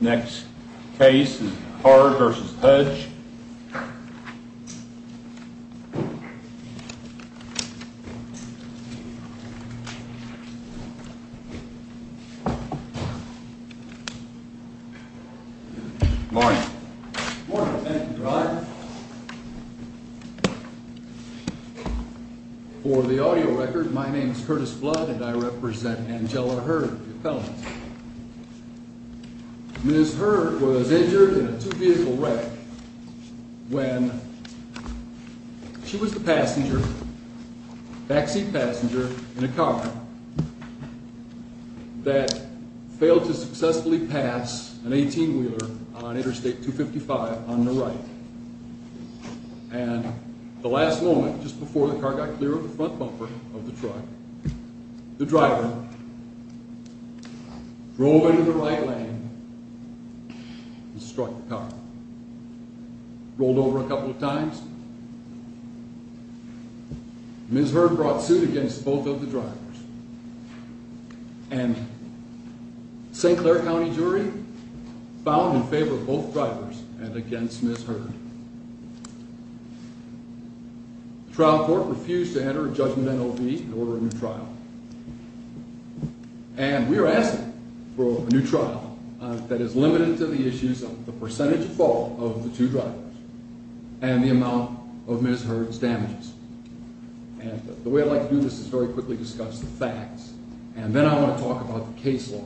Next case is Heard v. Fudge Good morning. Good morning. Thank you, Your Honor. For the audio record, my name is Curtis Flood and I represent Angella Heard, your felon. Ms. Heard was injured in a two-vehicle wreck when she was the passenger, backseat passenger, in a car that failed to successfully pass an 18-wheeler on Interstate 255 on the right. And the last moment, just before the car got clear of the front bumper of the truck, the driver drove into the right lane and struck the car. Rolled over a couple of times. Ms. Heard brought suit against both of the drivers. And St. Clair County jury found in favor of both drivers and against Ms. Heard. The trial court refused to enter a judgment in O.V. and order a new trial. And we are asking for a new trial that is limited to the issues of the percentage fault of the two drivers and the amount of Ms. Heard's damages. And the way I'd like to do this is very quickly discuss the facts, and then I want to talk about the case law.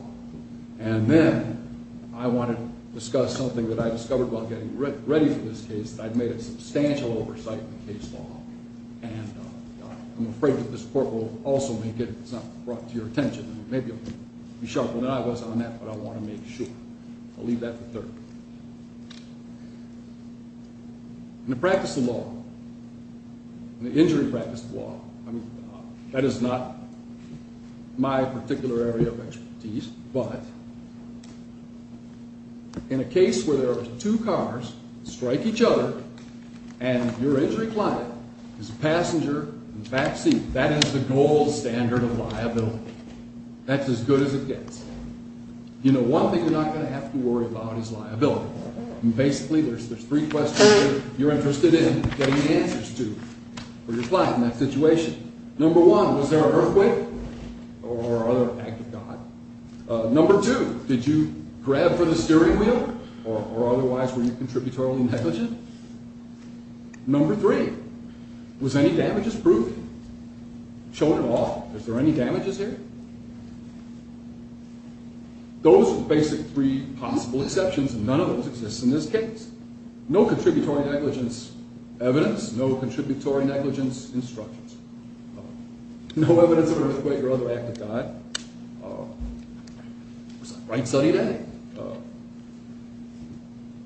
And then I want to discuss something that I discovered while getting ready for this case, that I've made a substantial oversight of the case law. And I'm afraid that this court will also make it, if it's not brought to your attention. Maybe you'll be sharper than I was on that, but I want to make sure. I'll leave that for third. In the practice of law, in the injury practice of law, that is not my particular area of expertise, but in a case where there are two cars that strike each other and your injury client is a passenger in the backseat, that is the gold standard of liability. That's as good as it gets. You know, one thing you're not going to have to worry about is liability. And basically, there's three questions you're interested in getting answers to for your client in that situation. Number one, was there an earthquake or other act of God? Number two, did you grab for the steering wheel or otherwise were you contributorily negligent? Number three, was any damages proven? Showing it off, is there any damages here? Those are the basic three possible exceptions, and none of those exist in this case. No contributory negligence evidence, no contributory negligence instructions. No evidence of an earthquake or other act of God. It was a bright sunny day.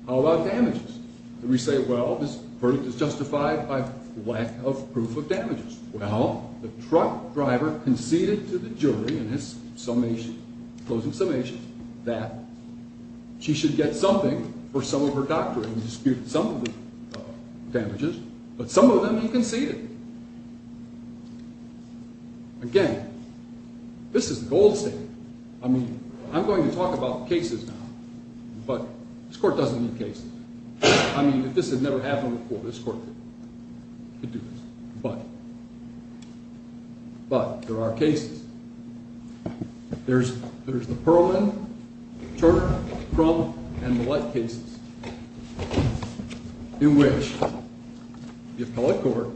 How about damages? Did we say, well, this verdict is justified by lack of proof of damages? Well, the truck driver conceded to the jury in his summation, closing summation, that she should get something for some of her doctoring. He disputed some of the damages, but some of them he conceded. Again, this is the gold standard. I mean, I'm going to talk about cases now, but this court doesn't need cases. I mean, if this had never happened before, this court could do this. But, there are cases. There's the Perlman, Turner, Crumb, and Millett cases. In which the appellate court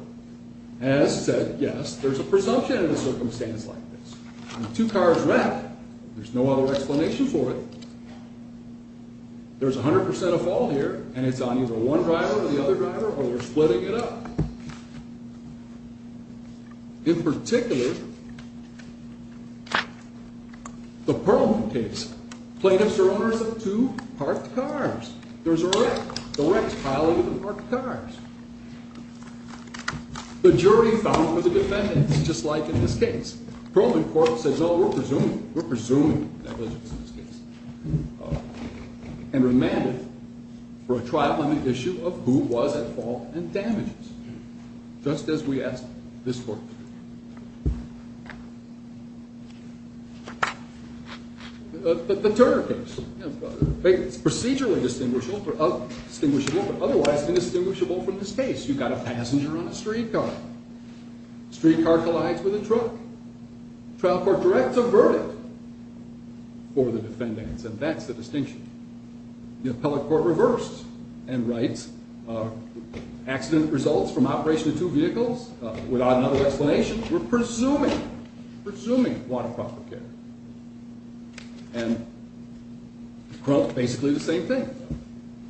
has said, yes, there's a presumption in a circumstance like this. Two cars wrecked, there's no other explanation for it. There's 100% of fault here, and it's on either one driver or the other driver, or they're splitting it up. In particular, the Perlman case. Plaintiffs are owners of two parked cars. There's a wreck. The wrecks pile over the parked cars. The jury found for the defendants, just like in this case. Perlman court says, oh, we're presuming negligence in this case. And remanded for a trial limit issue of who was at fault and damages. Just as we asked this court to do. The Turner case. It's procedurally distinguishable, but otherwise indistinguishable from this case. You've got a passenger on a streetcar. Streetcar collides with a truck. Trial court directs a verdict for the defendants, and that's the distinction. The appellate court reversed and writes, accident results from operation of two vehicles. Without another explanation, we're presuming, presuming want of proper care. And basically the same thing.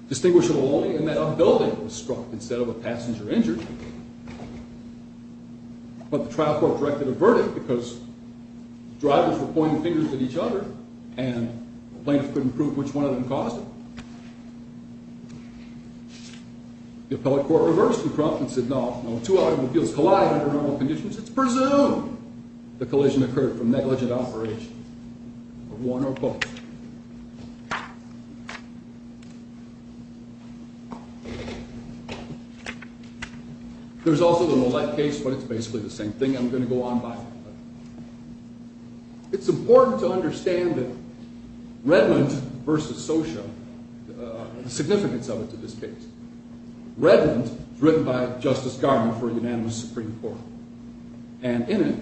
Distinguishable only in that a building was struck instead of a passenger injured. But the trial court directed a verdict because drivers were pointing fingers at each other. And plaintiffs couldn't prove which one of them caused it. The appellate court reversed and said, no, no, two automobiles collide under normal conditions. It's presumed the collision occurred from negligent operation of one or both. There's also the Lillette case, but it's basically the same thing. I'm going to go on by it. It's important to understand that Redmond versus Socia, the significance of it to this case. Redmond was written by Justice Garment for a unanimous Supreme Court. And in it,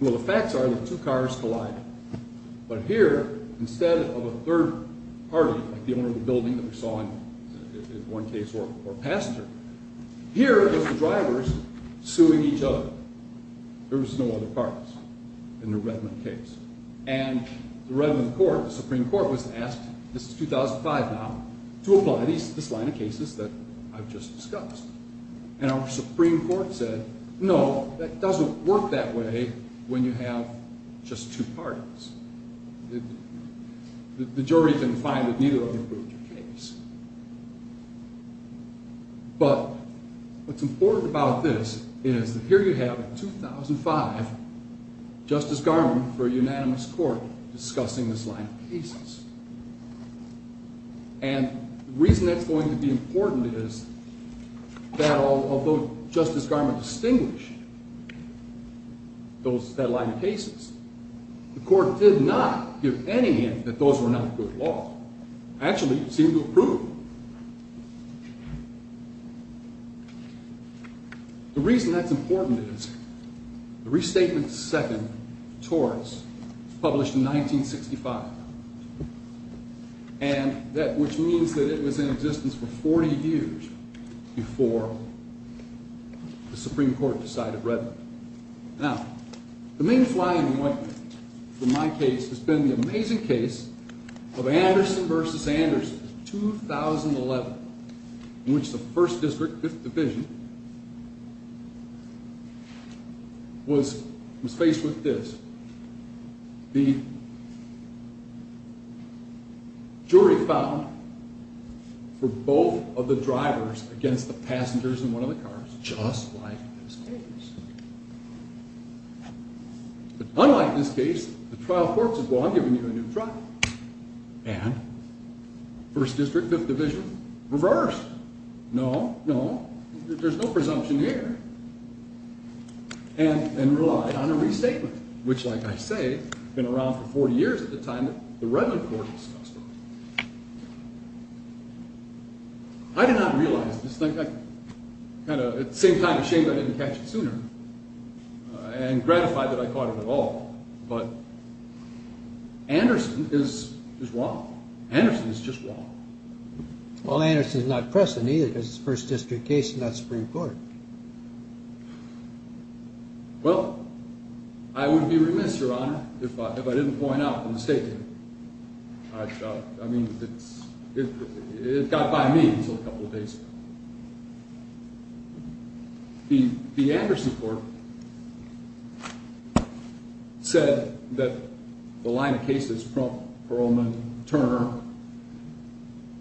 well, the facts are that two cars collide. But here, instead of a third party, like the owner of the building that we saw in one case or a passenger, here are the drivers suing each other. There was no other parties in the Redmond case. And the Redmond court, the Supreme Court, was asked, this is 2005 now, to apply this line of cases that I've just discussed. And our Supreme Court said, no, that doesn't work that way when you have just two parties. The jury can find that neither of them proved your case. But what's important about this is that here you have, in 2005, Justice Garment for a unanimous court discussing this line of cases. And the reason that's going to be important is that although Justice Garment distinguished that line of cases, the court did not give any hint that those were not good laws. Actually, it seemed to have proved them. The reason that's important is the Restatement II of Torres was published in 1965. And that, which means that it was in existence for 40 years before the Supreme Court decided Redmond. Now, the main flying ointment for my case has been the amazing case of Anderson v. Anderson, 2011, in which the First District Division was faced with this. The jury found for both of the drivers against the passengers in one of the cars, just like this case, but unlike this case, the trial court said, well, I'm giving you a new truck. And First District, Fifth Division reversed. No, no, there's no presumption here. And relied on a restatement, which, like I say, had been around for 40 years at the time that the Redmond court was discussed. I did not realize this. At the same time, it's a shame I didn't catch it sooner and gratified that I caught it at all. But Anderson is wrong. Anderson is just wrong. Well, Anderson is not present, either, because it's a First District case and not Supreme Court. Well, I would be remiss, Your Honor, if I didn't point out from the statement. I mean, it got by me until a couple of days ago. The Anderson court said that the line of cases from Paroleman Turner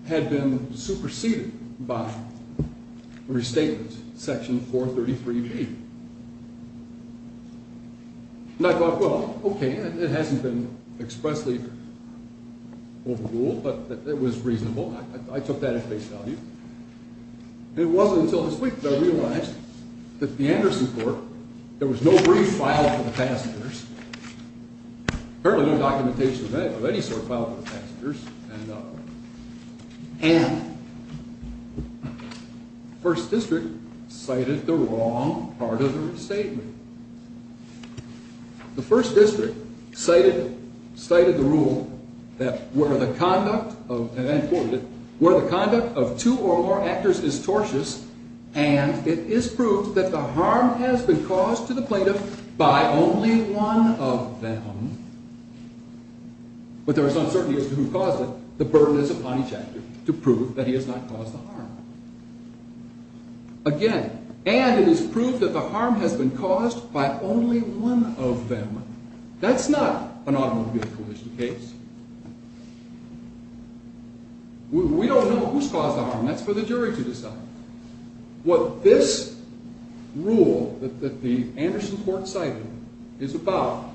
had been superseded by restatement section 433B. And I thought, well, okay, it hasn't been expressly overruled, but it was reasonable. I took that at face value. It wasn't until this week that I realized that the Anderson court, there was no brief file for the passengers, apparently no documentation of any sort filed for the passengers, and the First District cited the wrong part of the restatement. The First District cited the rule that where the conduct of two or more actors is tortious, and it is proved that the harm has been caused to the plaintiff by only one of them, but there is uncertainty as to who caused it. The burden is upon each actor to prove that he has not caused the harm. Again, and it is proved that the harm has been caused by only one of them. That's not an automobile collision case. We don't know who's caused the harm. That's for the jury to decide. What this rule that the Anderson court cited is about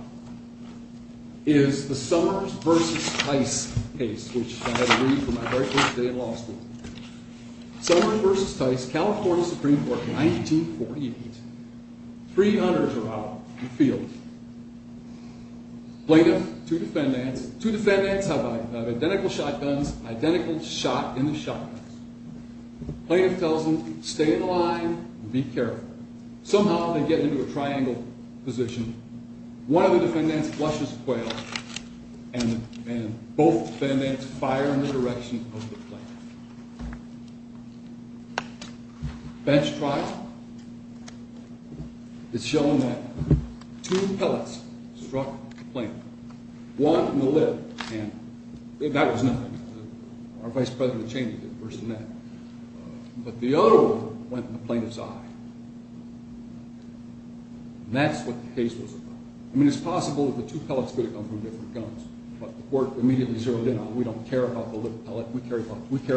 is the Summers v. Tice case, which I had to read for my very first day in law school. Summers v. Tice, California Supreme Court, 1948. Three hunters are out in the field. Plaintiff, two defendants. Two defendants have identical shotguns, identical shot in the shotguns. Plaintiff tells them, stay in the line and be careful. Somehow they get into a triangle position. One of the defendants flushes a quail, and both defendants fire in the direction of the plaintiff. Bench trial. It's shown that two pellets struck the plaintiff. One in the lip, and that was nothing. Our Vice President Cheney did worse than that. But the other one went in the plaintiff's eye. That's what the case was about. I mean, it's possible that the two pellets could have come from different guns, but the court immediately zeroed in on it. We don't care about the lip pellet. We care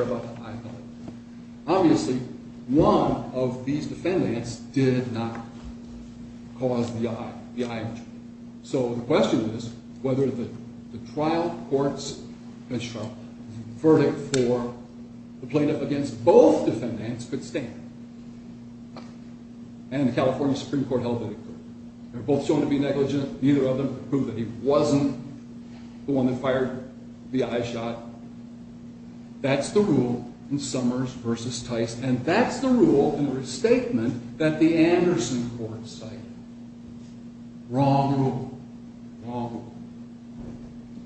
about the eye pellet. Obviously, one of these defendants did not cause the eye injury. So the question is whether the trial court's bench trial verdict for the plaintiff against both defendants could stand. And the California Supreme Court held it equal. They were both shown to be negligent. Neither of them proved that he wasn't the one that fired the eye shot. That's the rule in Summers v. Tice, and that's the rule in the restatement that the Anderson court cited. Wrong rule. Wrong rule.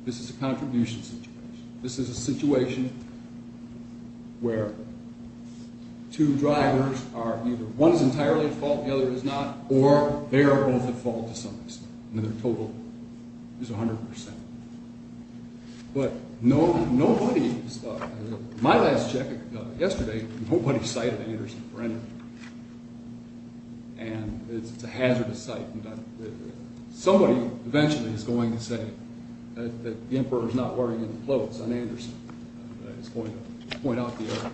This is a contribution situation. This is a situation where two drivers are either... One is entirely at fault, the other is not, or they are both at fault to some extent. And their total is 100%. But nobody... My last check yesterday, nobody cited Anderson for anything. And it's a hazardous site. Somebody eventually is going to say that the Emperor is not wearing any clothes on Anderson. It's going to point out the error.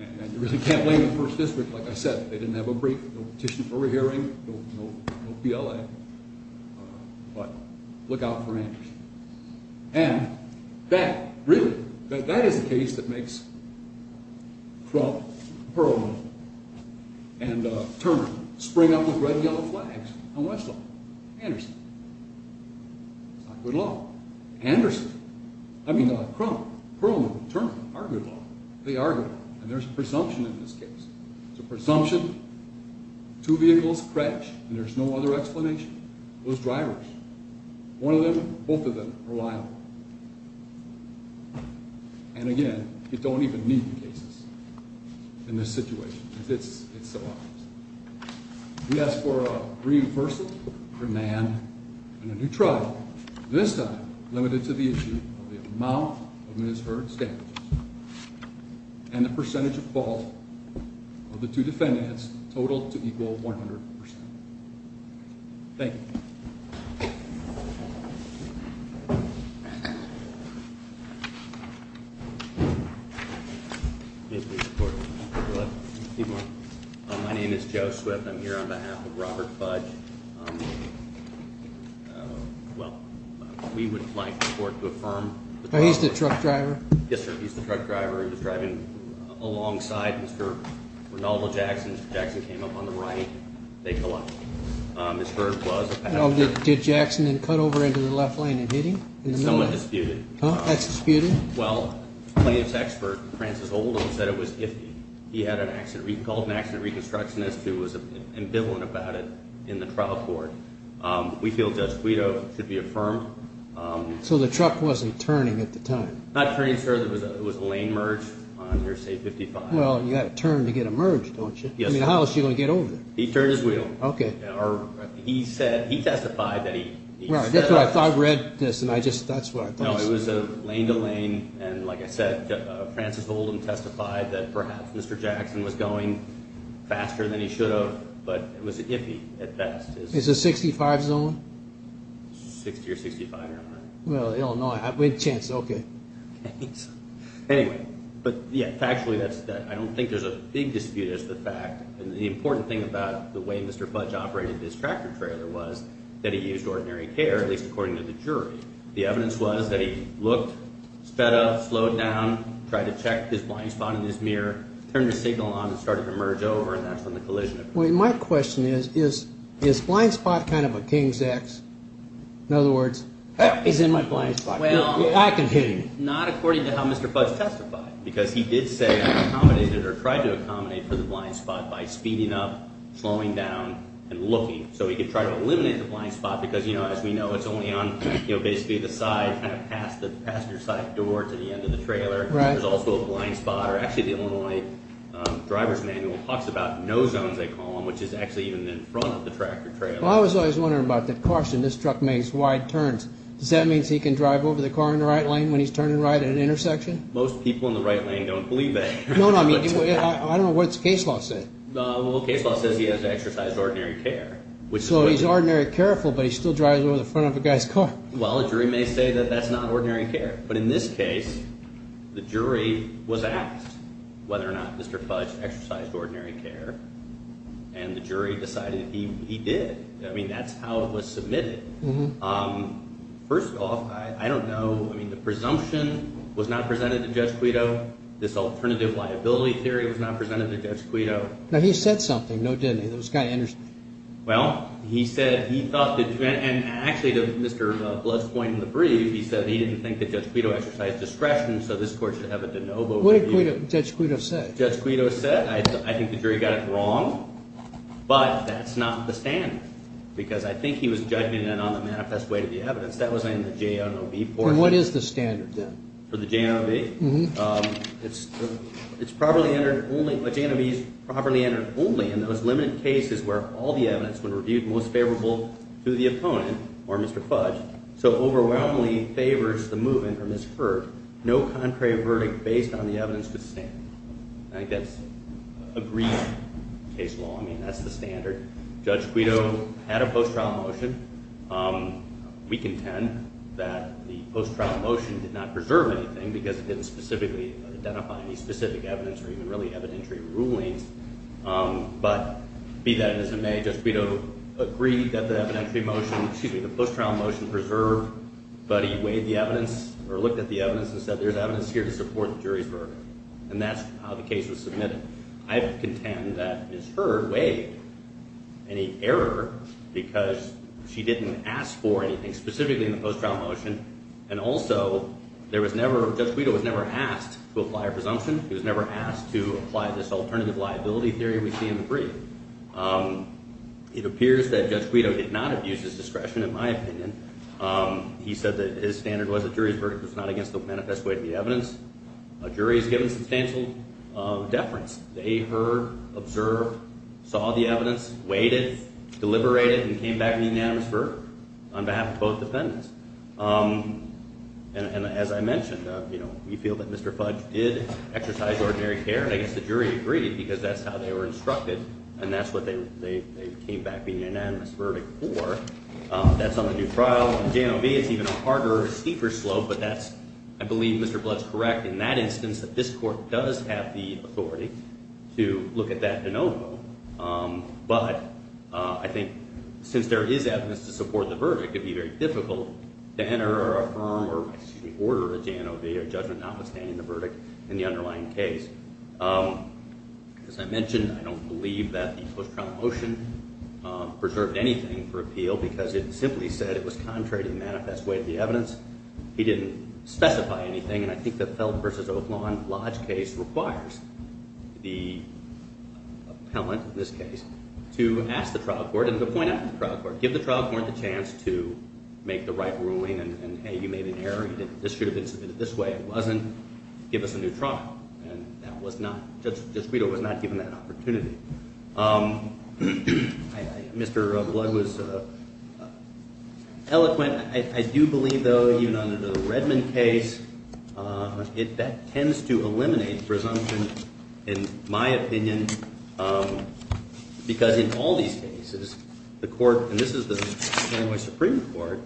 And you really can't blame the First District. Like I said, they didn't have a brief, no petition for re-hearing, no PLA. But look out for Anderson. And that, really, that is the case that makes Crump, Perlman, and Turner spring up with red-yellow flags on Westlaw. Anderson. It's not good law. Anderson. I mean, Crump, Perlman, Turner are good law. They are good law. And there's a presumption in this case. There's a presumption. Two vehicles crash, and there's no other explanation. Those drivers. One of them, both of them are liable. And again, you don't even need the cases in this situation. It's so obvious. We ask for a reimbursement for Mann and a new trial. This time, limited to the issue of the amount of misheard standards. And the percentage of fault of the two defendants totaled to equal 100%. Thank you. Thank you. My name is Joe Swift. I'm here on behalf of Robert Fudge. Well, we would like the court to affirm. Oh, he's the truck driver. Yes, sir. He's the truck driver. He was driving alongside Mr. Renaldo Jackson. Jackson came up on the right. They collided. Misheard was a passenger. Did Jackson then cut over into the left lane and hit him? Somewhat disputed. Huh? That's disputed? Well, plaintiff's expert, Francis Oldham, said it was iffy. He had an accident. He called an accident reconstructionist who was ambivalent about it in the trial court. We feel Judge Guido should be affirmed. So the truck wasn't turning at the time? Not turning, sir. It was a lane merge on your state 55. Well, you got to turn to get a merge, don't you? Yes, sir. I mean, how else are you going to get over there? He turned his wheel. Okay. He said, he testified that he... I thought I read this, and I just, that's what I thought. No, it was a lane to lane, and like I said, Francis Oldham testified that perhaps Mr. Jackson was going faster than he should have, but it was iffy at best. Is it 65 zone? 60 or 65, I don't know. Well, Illinois. Wait a chance, okay. Anyway, but yeah, factually, I don't think there's a big dispute as to the fact. The important thing about the way Mr. Fudge operated his tractor trailer was that he used ordinary care, at least according to the jury. The evidence was that he looked, sped up, slowed down, tried to check his blind spot in his mirror, turned his signal on and started to merge over, and that's when the collision occurred. My question is, is blind spot kind of a king's ex? In other words, he's in my blind spot. I can hit him. Not according to how Mr. Fudge testified, because he did say he accommodated or tried to accommodate for the blind spot by speeding up, slowing down, and looking, so he could try to eliminate the blind spot because, you know, as we know, it's only on, you know, basically the side, kind of past the passenger side door to the end of the trailer. Right. There's also a blind spot, or actually the Illinois driver's manual talks about no zones, they call them, which is actually even in front of the tractor trailer. Well, I was always wondering about the caution. This truck makes wide turns. Does that mean he can drive over the car in the right lane when he's turning right at an intersection? Most people in the right lane don't believe that. No, no, I mean, I don't know what the case law says. Well, the case law says he has exercised ordinary care. So he's ordinary careful, but he still drives over the front of a guy's car. Well, a jury may say that that's not ordinary care, but in this case, the jury was asked whether or not Mr. Fudge exercised ordinary care, and the jury decided he did. I mean, that's how it was submitted. First off, I don't know. I mean, the presumption was not presented to Judge Quito. This alternative liability theory was not presented to Judge Quito. Now, he said something, no, didn't he? This guy interested him. Well, he said he thought that, and actually, to Mr. Blood's point in the brief, he said he didn't think that Judge Quito exercised discretion, so this court should have a de novo review. What did Judge Quito say? As Judge Quito said, I think the jury got it wrong, but that's not the standard, because I think he was judging it on the manifest way to the evidence. That wasn't in the JNOB portion. And what is the standard, then? For the JNOB? Mm-hmm. It's properly entered only, a JNOB is properly entered only in those limited cases where all the evidence, when reviewed most favorable to the opponent or Mr. Fudge, so overwhelmingly favors the movement or misheard. No contrary verdict based on the evidence could stand. I think that's agreed case law. I mean, that's the standard. Judge Quito had a post-trial motion. We contend that the post-trial motion did not preserve anything because it didn't specifically identify any specific evidence or even really evidentiary rulings. But be that as it may, Judge Quito agreed that the post-trial motion preserved, but he weighed the evidence or looked at the evidence and said there's evidence here to support the jury's verdict. And that's how the case was submitted. I contend that misheard weighed any error because she didn't ask for anything specifically in the post-trial motion. And also, Judge Quito was never asked to apply a presumption. He was never asked to apply this alternative liability theory we see in the brief. It appears that Judge Quito did not abuse his discretion, in my opinion. He said that his standard was the jury's verdict was not against the manifest way of the evidence. A jury has given substantial deference. They heard, observed, saw the evidence, weighed it, deliberated, and came back with an unanimous verdict on behalf of both defendants. And as I mentioned, we feel that Mr. Fudge did exercise ordinary care. And I guess the jury agreed because that's how they were instructed, and that's what they came back with an unanimous verdict for. That's on the new trial. On the J&OB, it's even a harder, steeper slope, but I believe Mr. Blood's correct in that instance that this court does have the authority to look at that de novo. But I think since there is evidence to support the verdict, it would be very difficult to enter or affirm or order a J&OB or judgment notwithstanding the verdict in the underlying case. As I mentioned, I don't believe that the post-trial motion preserved anything for appeal because it simply said it was contrary to the manifest way of the evidence. He didn't specify anything. And I think the Felt v. Oaklawn Lodge case requires the appellant in this case to ask the trial court and to point out to the trial court, give the trial court the chance to make the right ruling and, hey, you made an error. This should have been submitted this way. It wasn't. Give us a new trial. And Judge Guido was not given that opportunity. Mr. Blood was eloquent. I do believe, though, even under the Redmond case, that tends to eliminate presumption, in my opinion, because in all these cases, the court, and this is the Illinois Supreme Court,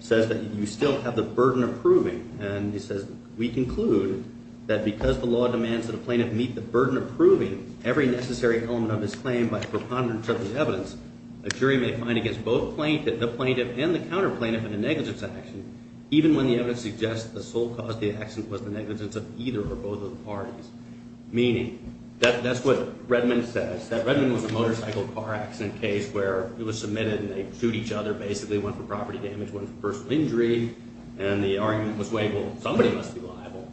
says that you still have the burden of proving. And he says, we conclude that because the law demands that a plaintiff meet the burden of proving every necessary element of his claim by preponderance of the evidence, a jury may find against both the plaintiff and the counterplaintiff in a negligence action, even when the evidence suggests the sole cause of the accident was the negligence of either or both of the parties. Meaning, that's what Redmond says, that Redmond was a motorcycle car accident case where it was submitted and they shoot each other, basically went for property damage, went for personal injury. And the argument was made, well, somebody must be liable.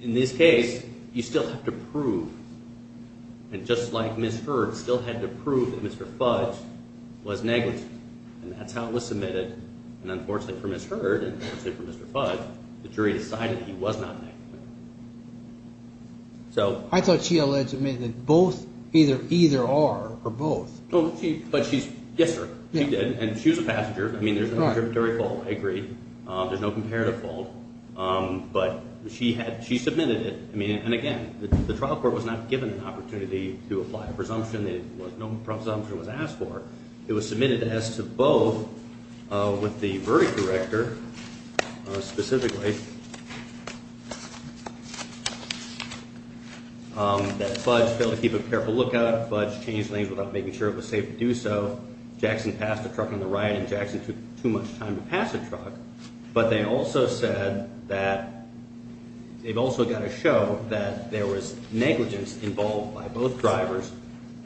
In this case, you still have to prove. And just like Ms. Hurd still had to prove that Mr. Fudge was negligent. And that's how it was submitted. And unfortunately for Ms. Hurd and unfortunately for Mr. Fudge, the jury decided he was not negligent. I thought she alleged to me that either or, or both. But she's, yes, sir, she did. And she was a passenger. I mean, there's no tributary fault. I agree. There's no comparative fault. But she had, she submitted it. I mean, and again, the trial court was not given an opportunity to apply a presumption. There was no presumption was asked for. It was submitted as to both with the verdict director specifically that Fudge failed to keep a careful lookout. Fudge changed lanes without making sure it was safe to do so. Jackson passed the truck on the right, and Jackson took too much time to pass the truck. But they also said that they've also got to show that there was negligence involved by both drivers.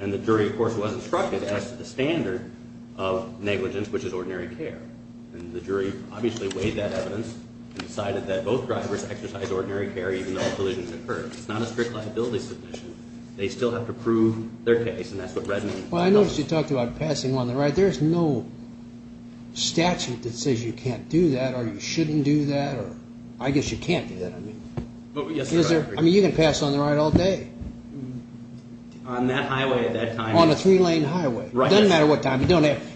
And the jury, of course, was instructed as to the standard of negligence, which is ordinary care. And the jury obviously weighed that evidence and decided that both drivers exercised ordinary care even though a delusion had occurred. It's not a strict liability submission. They still have to prove their case. And that's what Redmond. Well, I noticed you talked about passing on the right. There's no statute that says you can't do that or you shouldn't do that. I guess you can't do that. I mean, you can pass on the right all day. On that highway at that time. On a three-lane highway. It doesn't matter what time.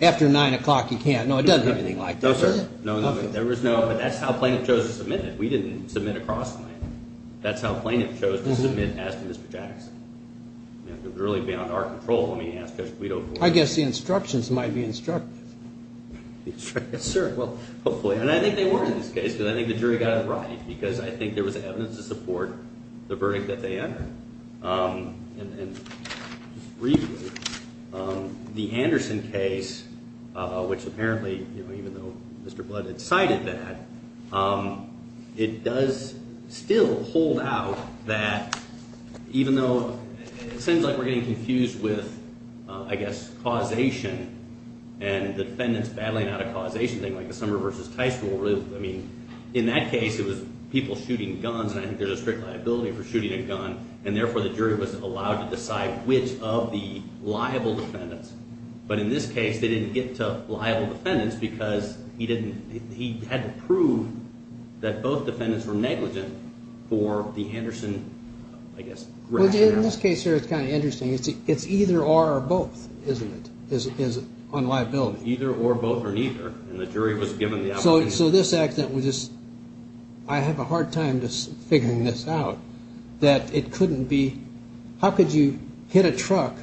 After 9 o'clock, you can't. No, it doesn't have anything like that. No, sir. There was no, but that's how plaintiff chose to submit it. We didn't submit across the lane. That's how plaintiff chose to submit as to Mr. Jackson. It was really beyond our control. Let me ask Judge Guido. I guess the instructions might be instructive. Yes, sir. Well, hopefully. And I think they were in this case because I think the jury got it right because I think there was evidence to support the verdict that they entered. And just briefly, the Anderson case, which apparently, you know, even though Mr. Blood had cited that, it does still hold out that even though it seems like we're getting confused with, I guess, causation and the defendants battling out a causation thing like the Summer versus Tice rule. I mean, in that case, it was people shooting guns. And I think there's a strict liability for shooting a gun. And therefore, the jury was allowed to decide which of the liable defendants. But in this case, they didn't get to liable defendants because he didn't, he had to prove that both defendants were negligent for the Anderson, I guess. Well, in this case here, it's kind of interesting. It's either or or both, isn't it, is on liability. And the jury was given the opportunity. So this accident was just, I have a hard time just figuring this out, that it couldn't be, how could you hit a truck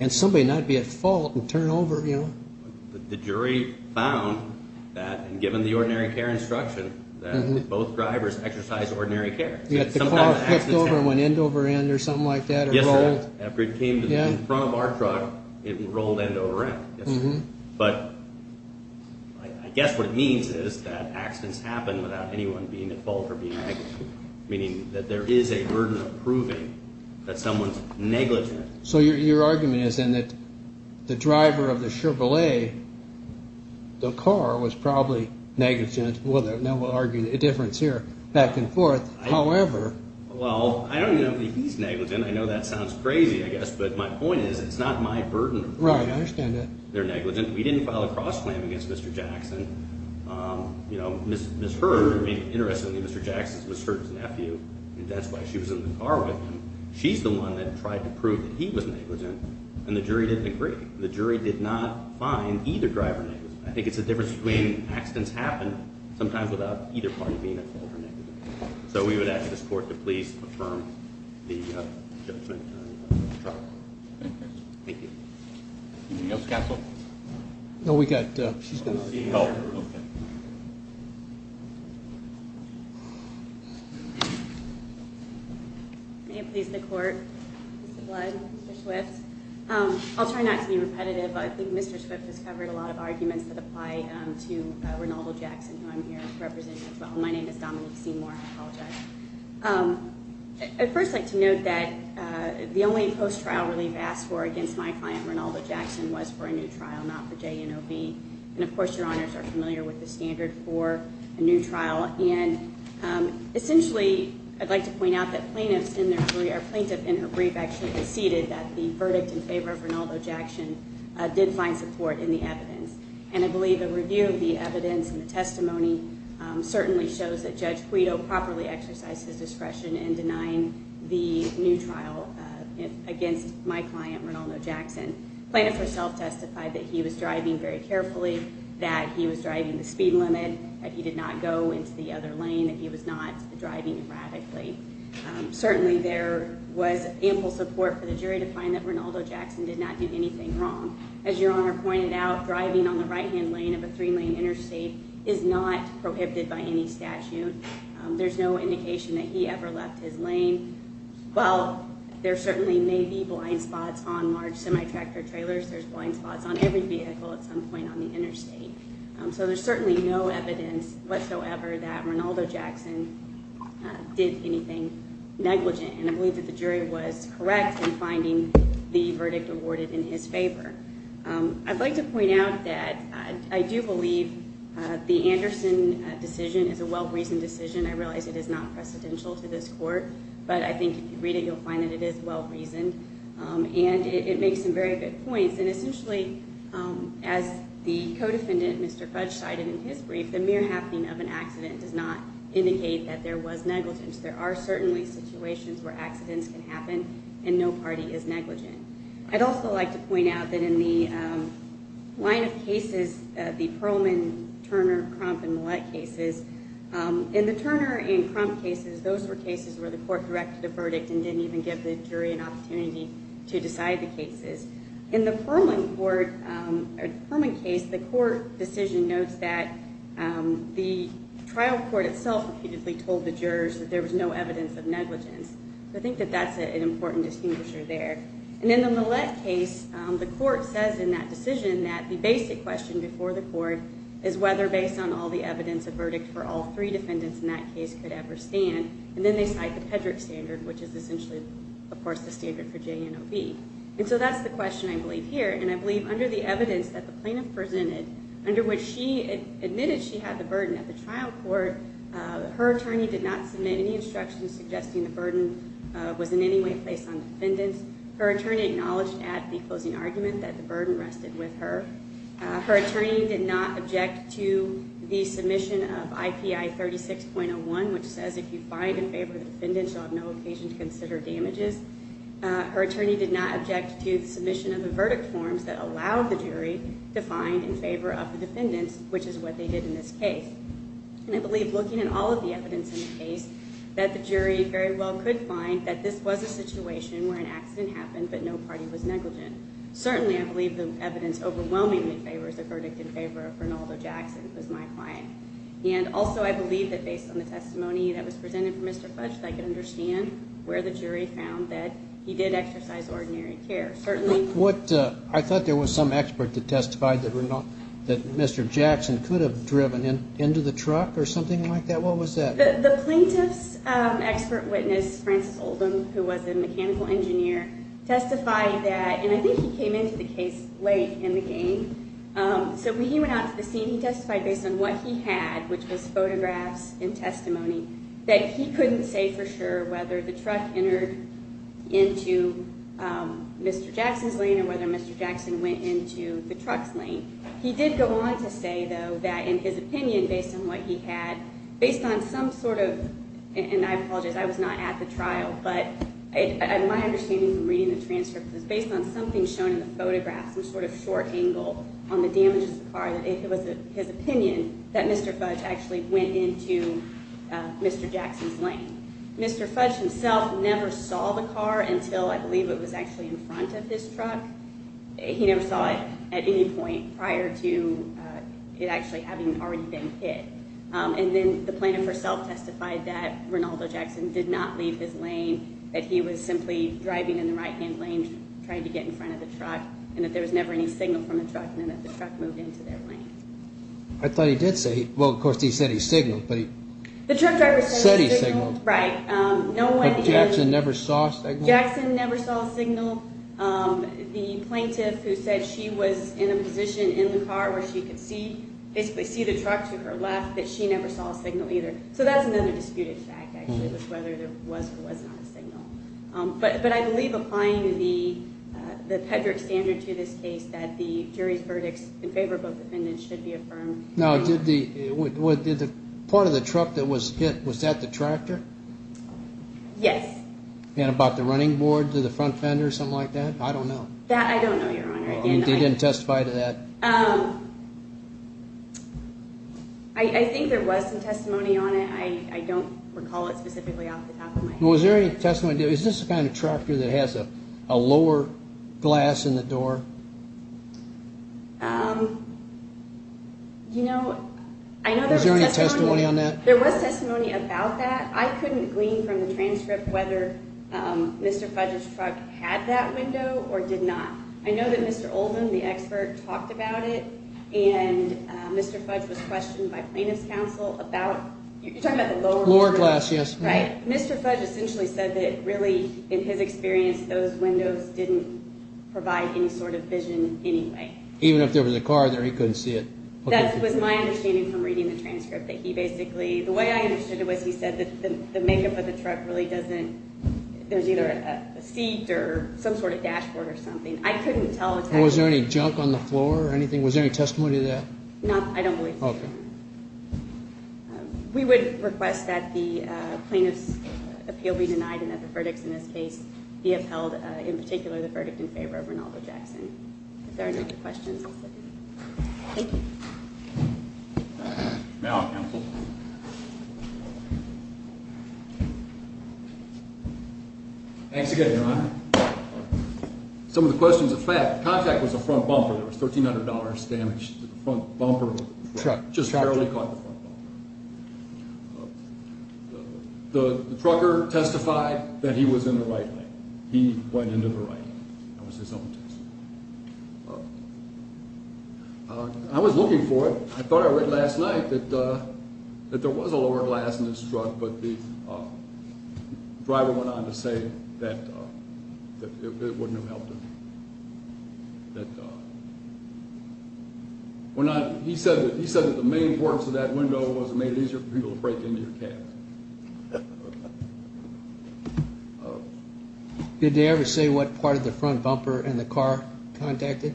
and somebody not be at fault and turn over, you know? The jury found that and given the ordinary care instruction that both drivers exercise ordinary care. The car flipped over and went end over end or something like that. Yes, sir. After it came in front of our truck, it rolled end over end. But I guess what it means is that accidents happen without anyone being at fault or being negligent. Meaning that there is a burden of proving that someone's negligent. So your argument is then that the driver of the Chevrolet, the car was probably negligent. Well, then we'll argue the difference here, back and forth. However. Well, I don't even know if he's negligent. I know that sounds crazy, I guess. But my point is, it's not my burden. Right, I understand that. They're negligent. We didn't file a cross-claim against Mr. Jackson. You know, Ms. Hurd, interestingly, Mr. Jackson is Ms. Hurd's nephew, and that's why she was in the car with him. She's the one that tried to prove that he was negligent, and the jury didn't agree. The jury did not find either driver negligent. I think it's the difference between accidents happen sometimes without either party being at fault or negligent. So we would ask this court to please affirm the judgment on the truck. Thank you. Thank you. Anything else, counsel? No, we've got. She's got. Oh, okay. May it please the court, Mr. Blood, Mr. Swift. I'll try not to be repetitive. I think Mr. Swift has covered a lot of arguments that apply to Renaldo Jackson, who I'm here representing as well. My name is Dominique Seymour. I apologize. I'd first like to note that the only post-trial relief asked for against my client, Renaldo Jackson, was for a new trial, not for JNOB. And, of course, your honors are familiar with the standard for a new trial. And essentially, I'd like to point out that plaintiff in her brief actually conceded that the verdict in favor of Renaldo Jackson did find support in the evidence. And I believe the review of the evidence and the testimony certainly shows that Judge Guido properly exercised his discretion in denying the new trial against my client, Renaldo Jackson. Plaintiff herself testified that he was driving very carefully, that he was driving the speed limit, that he did not go into the other lane, that he was not driving erratically. Certainly, there was ample support for the jury to find that Renaldo Jackson did not do anything wrong. As your honor pointed out, driving on the right-hand lane of a three-lane interstate is not prohibited by any statute. There's no indication that he ever left his lane. While there certainly may be blind spots on large semi-tractor trailers, there's blind spots on every vehicle at some point on the interstate. So there's certainly no evidence whatsoever that Renaldo Jackson did anything negligent. And I believe that the jury was correct in finding the verdict awarded in his favor. I'd like to point out that I do believe the Anderson decision is a well-reasoned decision. I realize it is not precedential to this court, but I think if you read it, you'll find that it is well-reasoned. And it makes some very good points. And essentially, as the co-defendant, Mr. Fudge, cited in his brief, the mere happening of an accident does not indicate that there was negligence. There are certainly situations where accidents can happen, and no party is negligent. I'd also like to point out that in the line of cases, the Perlman, Turner, Crump, and Millett cases, in the Turner and Crump cases, those were cases where the court directed a verdict and didn't even give the jury an opportunity to decide the cases. In the Perlman case, the court decision notes that the trial court itself repeatedly told the jurors that there was no evidence of negligence. So I think that that's an important distinguisher there. And in the Millett case, the court says in that decision that the basic question before the court is whether, based on all the evidence, a verdict for all three defendants in that case could ever stand. And then they cite the Pedrick standard, which is essentially, of course, the standard for J&OB. And so that's the question, I believe, here. And I believe under the evidence that the plaintiff presented, under which she admitted she had the burden at the trial court, her attorney did not submit any instructions suggesting the burden was in any way placed on defendants. Her attorney acknowledged at the closing argument that the burden rested with her. Her attorney did not object to the submission of IPI 36.01, which says if you find in favor of the defendants, you'll have no occasion to consider damages. Her attorney did not object to the submission of the verdict forms that allowed the jury to find in favor of the defendants, which is what they did in this case. And I believe, looking at all of the evidence in the case, that the jury very well could find that this was a situation where an accident happened but no party was negligent. Certainly, I believe the evidence overwhelmingly favors the verdict in favor of Bernaldo Jackson, who is my client. And also, I believe that based on the testimony that was presented from Mr. Fudge, that I could understand where the jury found that he did exercise ordinary care. Certainly. I thought there was some expert that testified that Mr. Jackson could have driven into the truck or something like that. What was that? The plaintiff's expert witness, Francis Oldham, who was a mechanical engineer, testified that, and I think he came into the case late in the game. So when he went out to the scene, he testified based on what he had, which was photographs and testimony, that he couldn't say for sure whether the truck entered into Mr. Jackson's lane or whether Mr. Jackson went into the truck's lane. He did go on to say, though, that in his opinion, based on what he had, based on some sort of – and I apologize, I was not at the trial, but my understanding from reading the transcript was based on something shown in the photograph, some sort of short angle on the damages of the car, that it was his opinion that Mr. Fudge actually went into Mr. Jackson's lane. Mr. Fudge himself never saw the car until I believe it was actually in front of this truck. He never saw it at any point prior to it actually having already been hit. And then the plaintiff herself testified that Rinaldo Jackson did not leave his lane, that he was simply driving in the right-hand lane trying to get in front of the truck, and that there was never any signal from the truck, and that the truck moved into their lane. I thought he did say – well, of course, he said he signaled, but he said he signaled. The truck driver said he signaled, right. But Jackson never saw a signal? Jackson never saw a signal. The plaintiff, who said she was in a position in the car where she could see, basically see the truck to her left, that she never saw a signal either. So that's another disputed fact, actually, was whether there was or was not a signal. But I believe, applying the Pedrick standard to this case, that the jury's verdicts in favor of both defendants should be affirmed. Now, did the – part of the truck that was hit, was that the tractor? Yes. And about the running board to the front fender or something like that? I don't know. That I don't know, Your Honor. They didn't testify to that? No. I think there was some testimony on it. I don't recall it specifically off the top of my head. Well, was there any testimony – is this the kind of tractor that has a lower glass in the door? You know, I know there was testimony – Was there any testimony on that? There was testimony about that. I couldn't glean from the transcript whether Mr. Fudge's truck had that window or did not. I know that Mr. Oldham, the expert, talked about it, and Mr. Fudge was questioned by plaintiff's counsel about – you're talking about the lower window? Lower glass, yes. Right. Mr. Fudge essentially said that, really, in his experience, those windows didn't provide any sort of vision anyway. Even if there was a car there, he couldn't see it? That was my understanding from reading the transcript, that he basically – the way I understood it was he said that the makeup of the truck really doesn't – there's either a seat or some sort of dashboard or something. I couldn't tell exactly – Was there any junk on the floor or anything? Was there any testimony to that? No, I don't believe so. Okay. We would request that the plaintiff's appeal be denied and that the verdicts in this case be upheld, in particular, the verdict in favor of Reynaldo Jackson. If there are no other questions, I'll stop here. Thank you. Now, counsel. Thanks again, Your Honor. Some of the questions, in fact, the contact was a front bumper. There was $1,300 damaged to the front bumper of the truck. Just barely caught the front bumper. The trucker testified that he was in the right lane. He went into the right lane. That was his own testimony. I was looking for it. I thought I read last night that there was a lower glass in this truck, but the driver went on to say that it wouldn't have helped him. He said that the main importance of that window was it made it easier for people to break into your cab. Did they ever say what part of the front bumper in the car contacted?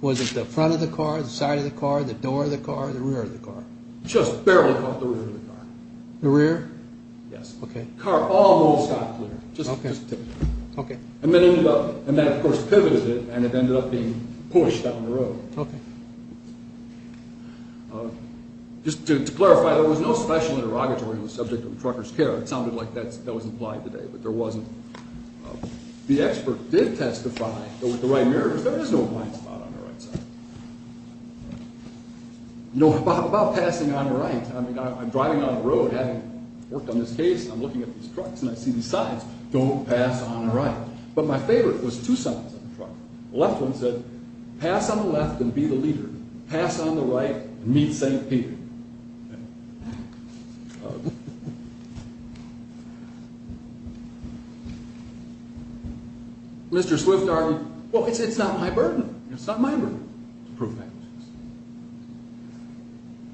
Was it the front of the car, the side of the car, the door of the car, the rear of the car? Just barely caught the rear of the car. The rear? Yes. Okay. The car almost got clear. Okay. And that, of course, pivoted it, and it ended up being pushed down the road. Okay. Just to clarify, there was no special interrogatory on the subject of the trucker's care. It sounded like that was implied today, but there wasn't. The expert did testify that with the right mirrors, there is no blind spot on the right side. About passing on the right, I mean, I'm driving down the road. Having worked on this case, I'm looking at these trucks, and I see these signs, don't pass on the right. But my favorite was two signs on the truck. The left one said, pass on the left and be the leader. Pass on the right and meet St. Peter. Mr. Swift argued, well, it's not my burden. It's not my burden to prove that.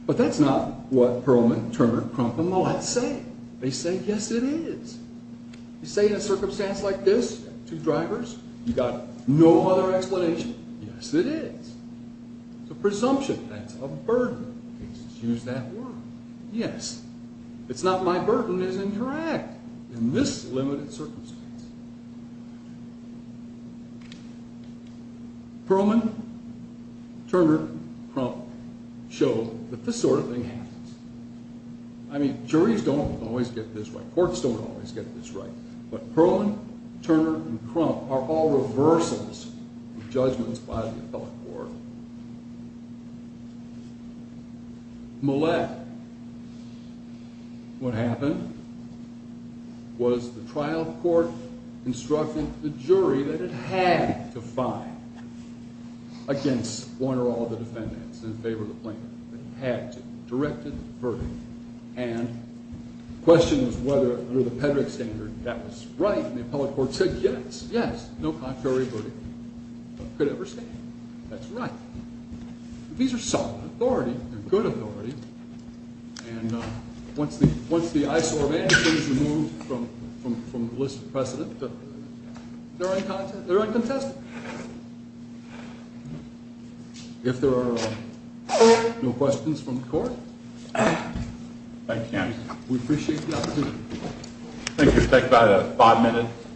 But that's not what Perlman, Turner, Crump, and Mollett say. They say, yes, it is. They say in a circumstance like this, two drivers, you've got no other explanation. Yes, it is. It's a presumption. That's a burden in cases. Use that word. Yes. It's not my burden is incorrect in this limited circumstance. Perlman, Turner, Crump show that this sort of thing happens. I mean, juries don't always get this right. Courts don't always get this right. But Perlman, Turner, and Crump are all reversals of judgments by the appellate court. Mollett, what happened was the trial court instructed the jury that it had to find against one or all of the defendants in favor of the plaintiff. It had to. Directed the verdict. And the question was whether, under the Pedrick standard, that was right. And the appellate court said, yes, yes. No contrary verdict could ever stand. That's right. These are solid authorities. They're good authorities. And once the eyesore of anything is removed from the list of precedent, they're uncontested. All right. If there are no questions from the court, we appreciate the opportunity. Thank you. We'll take about five minutes.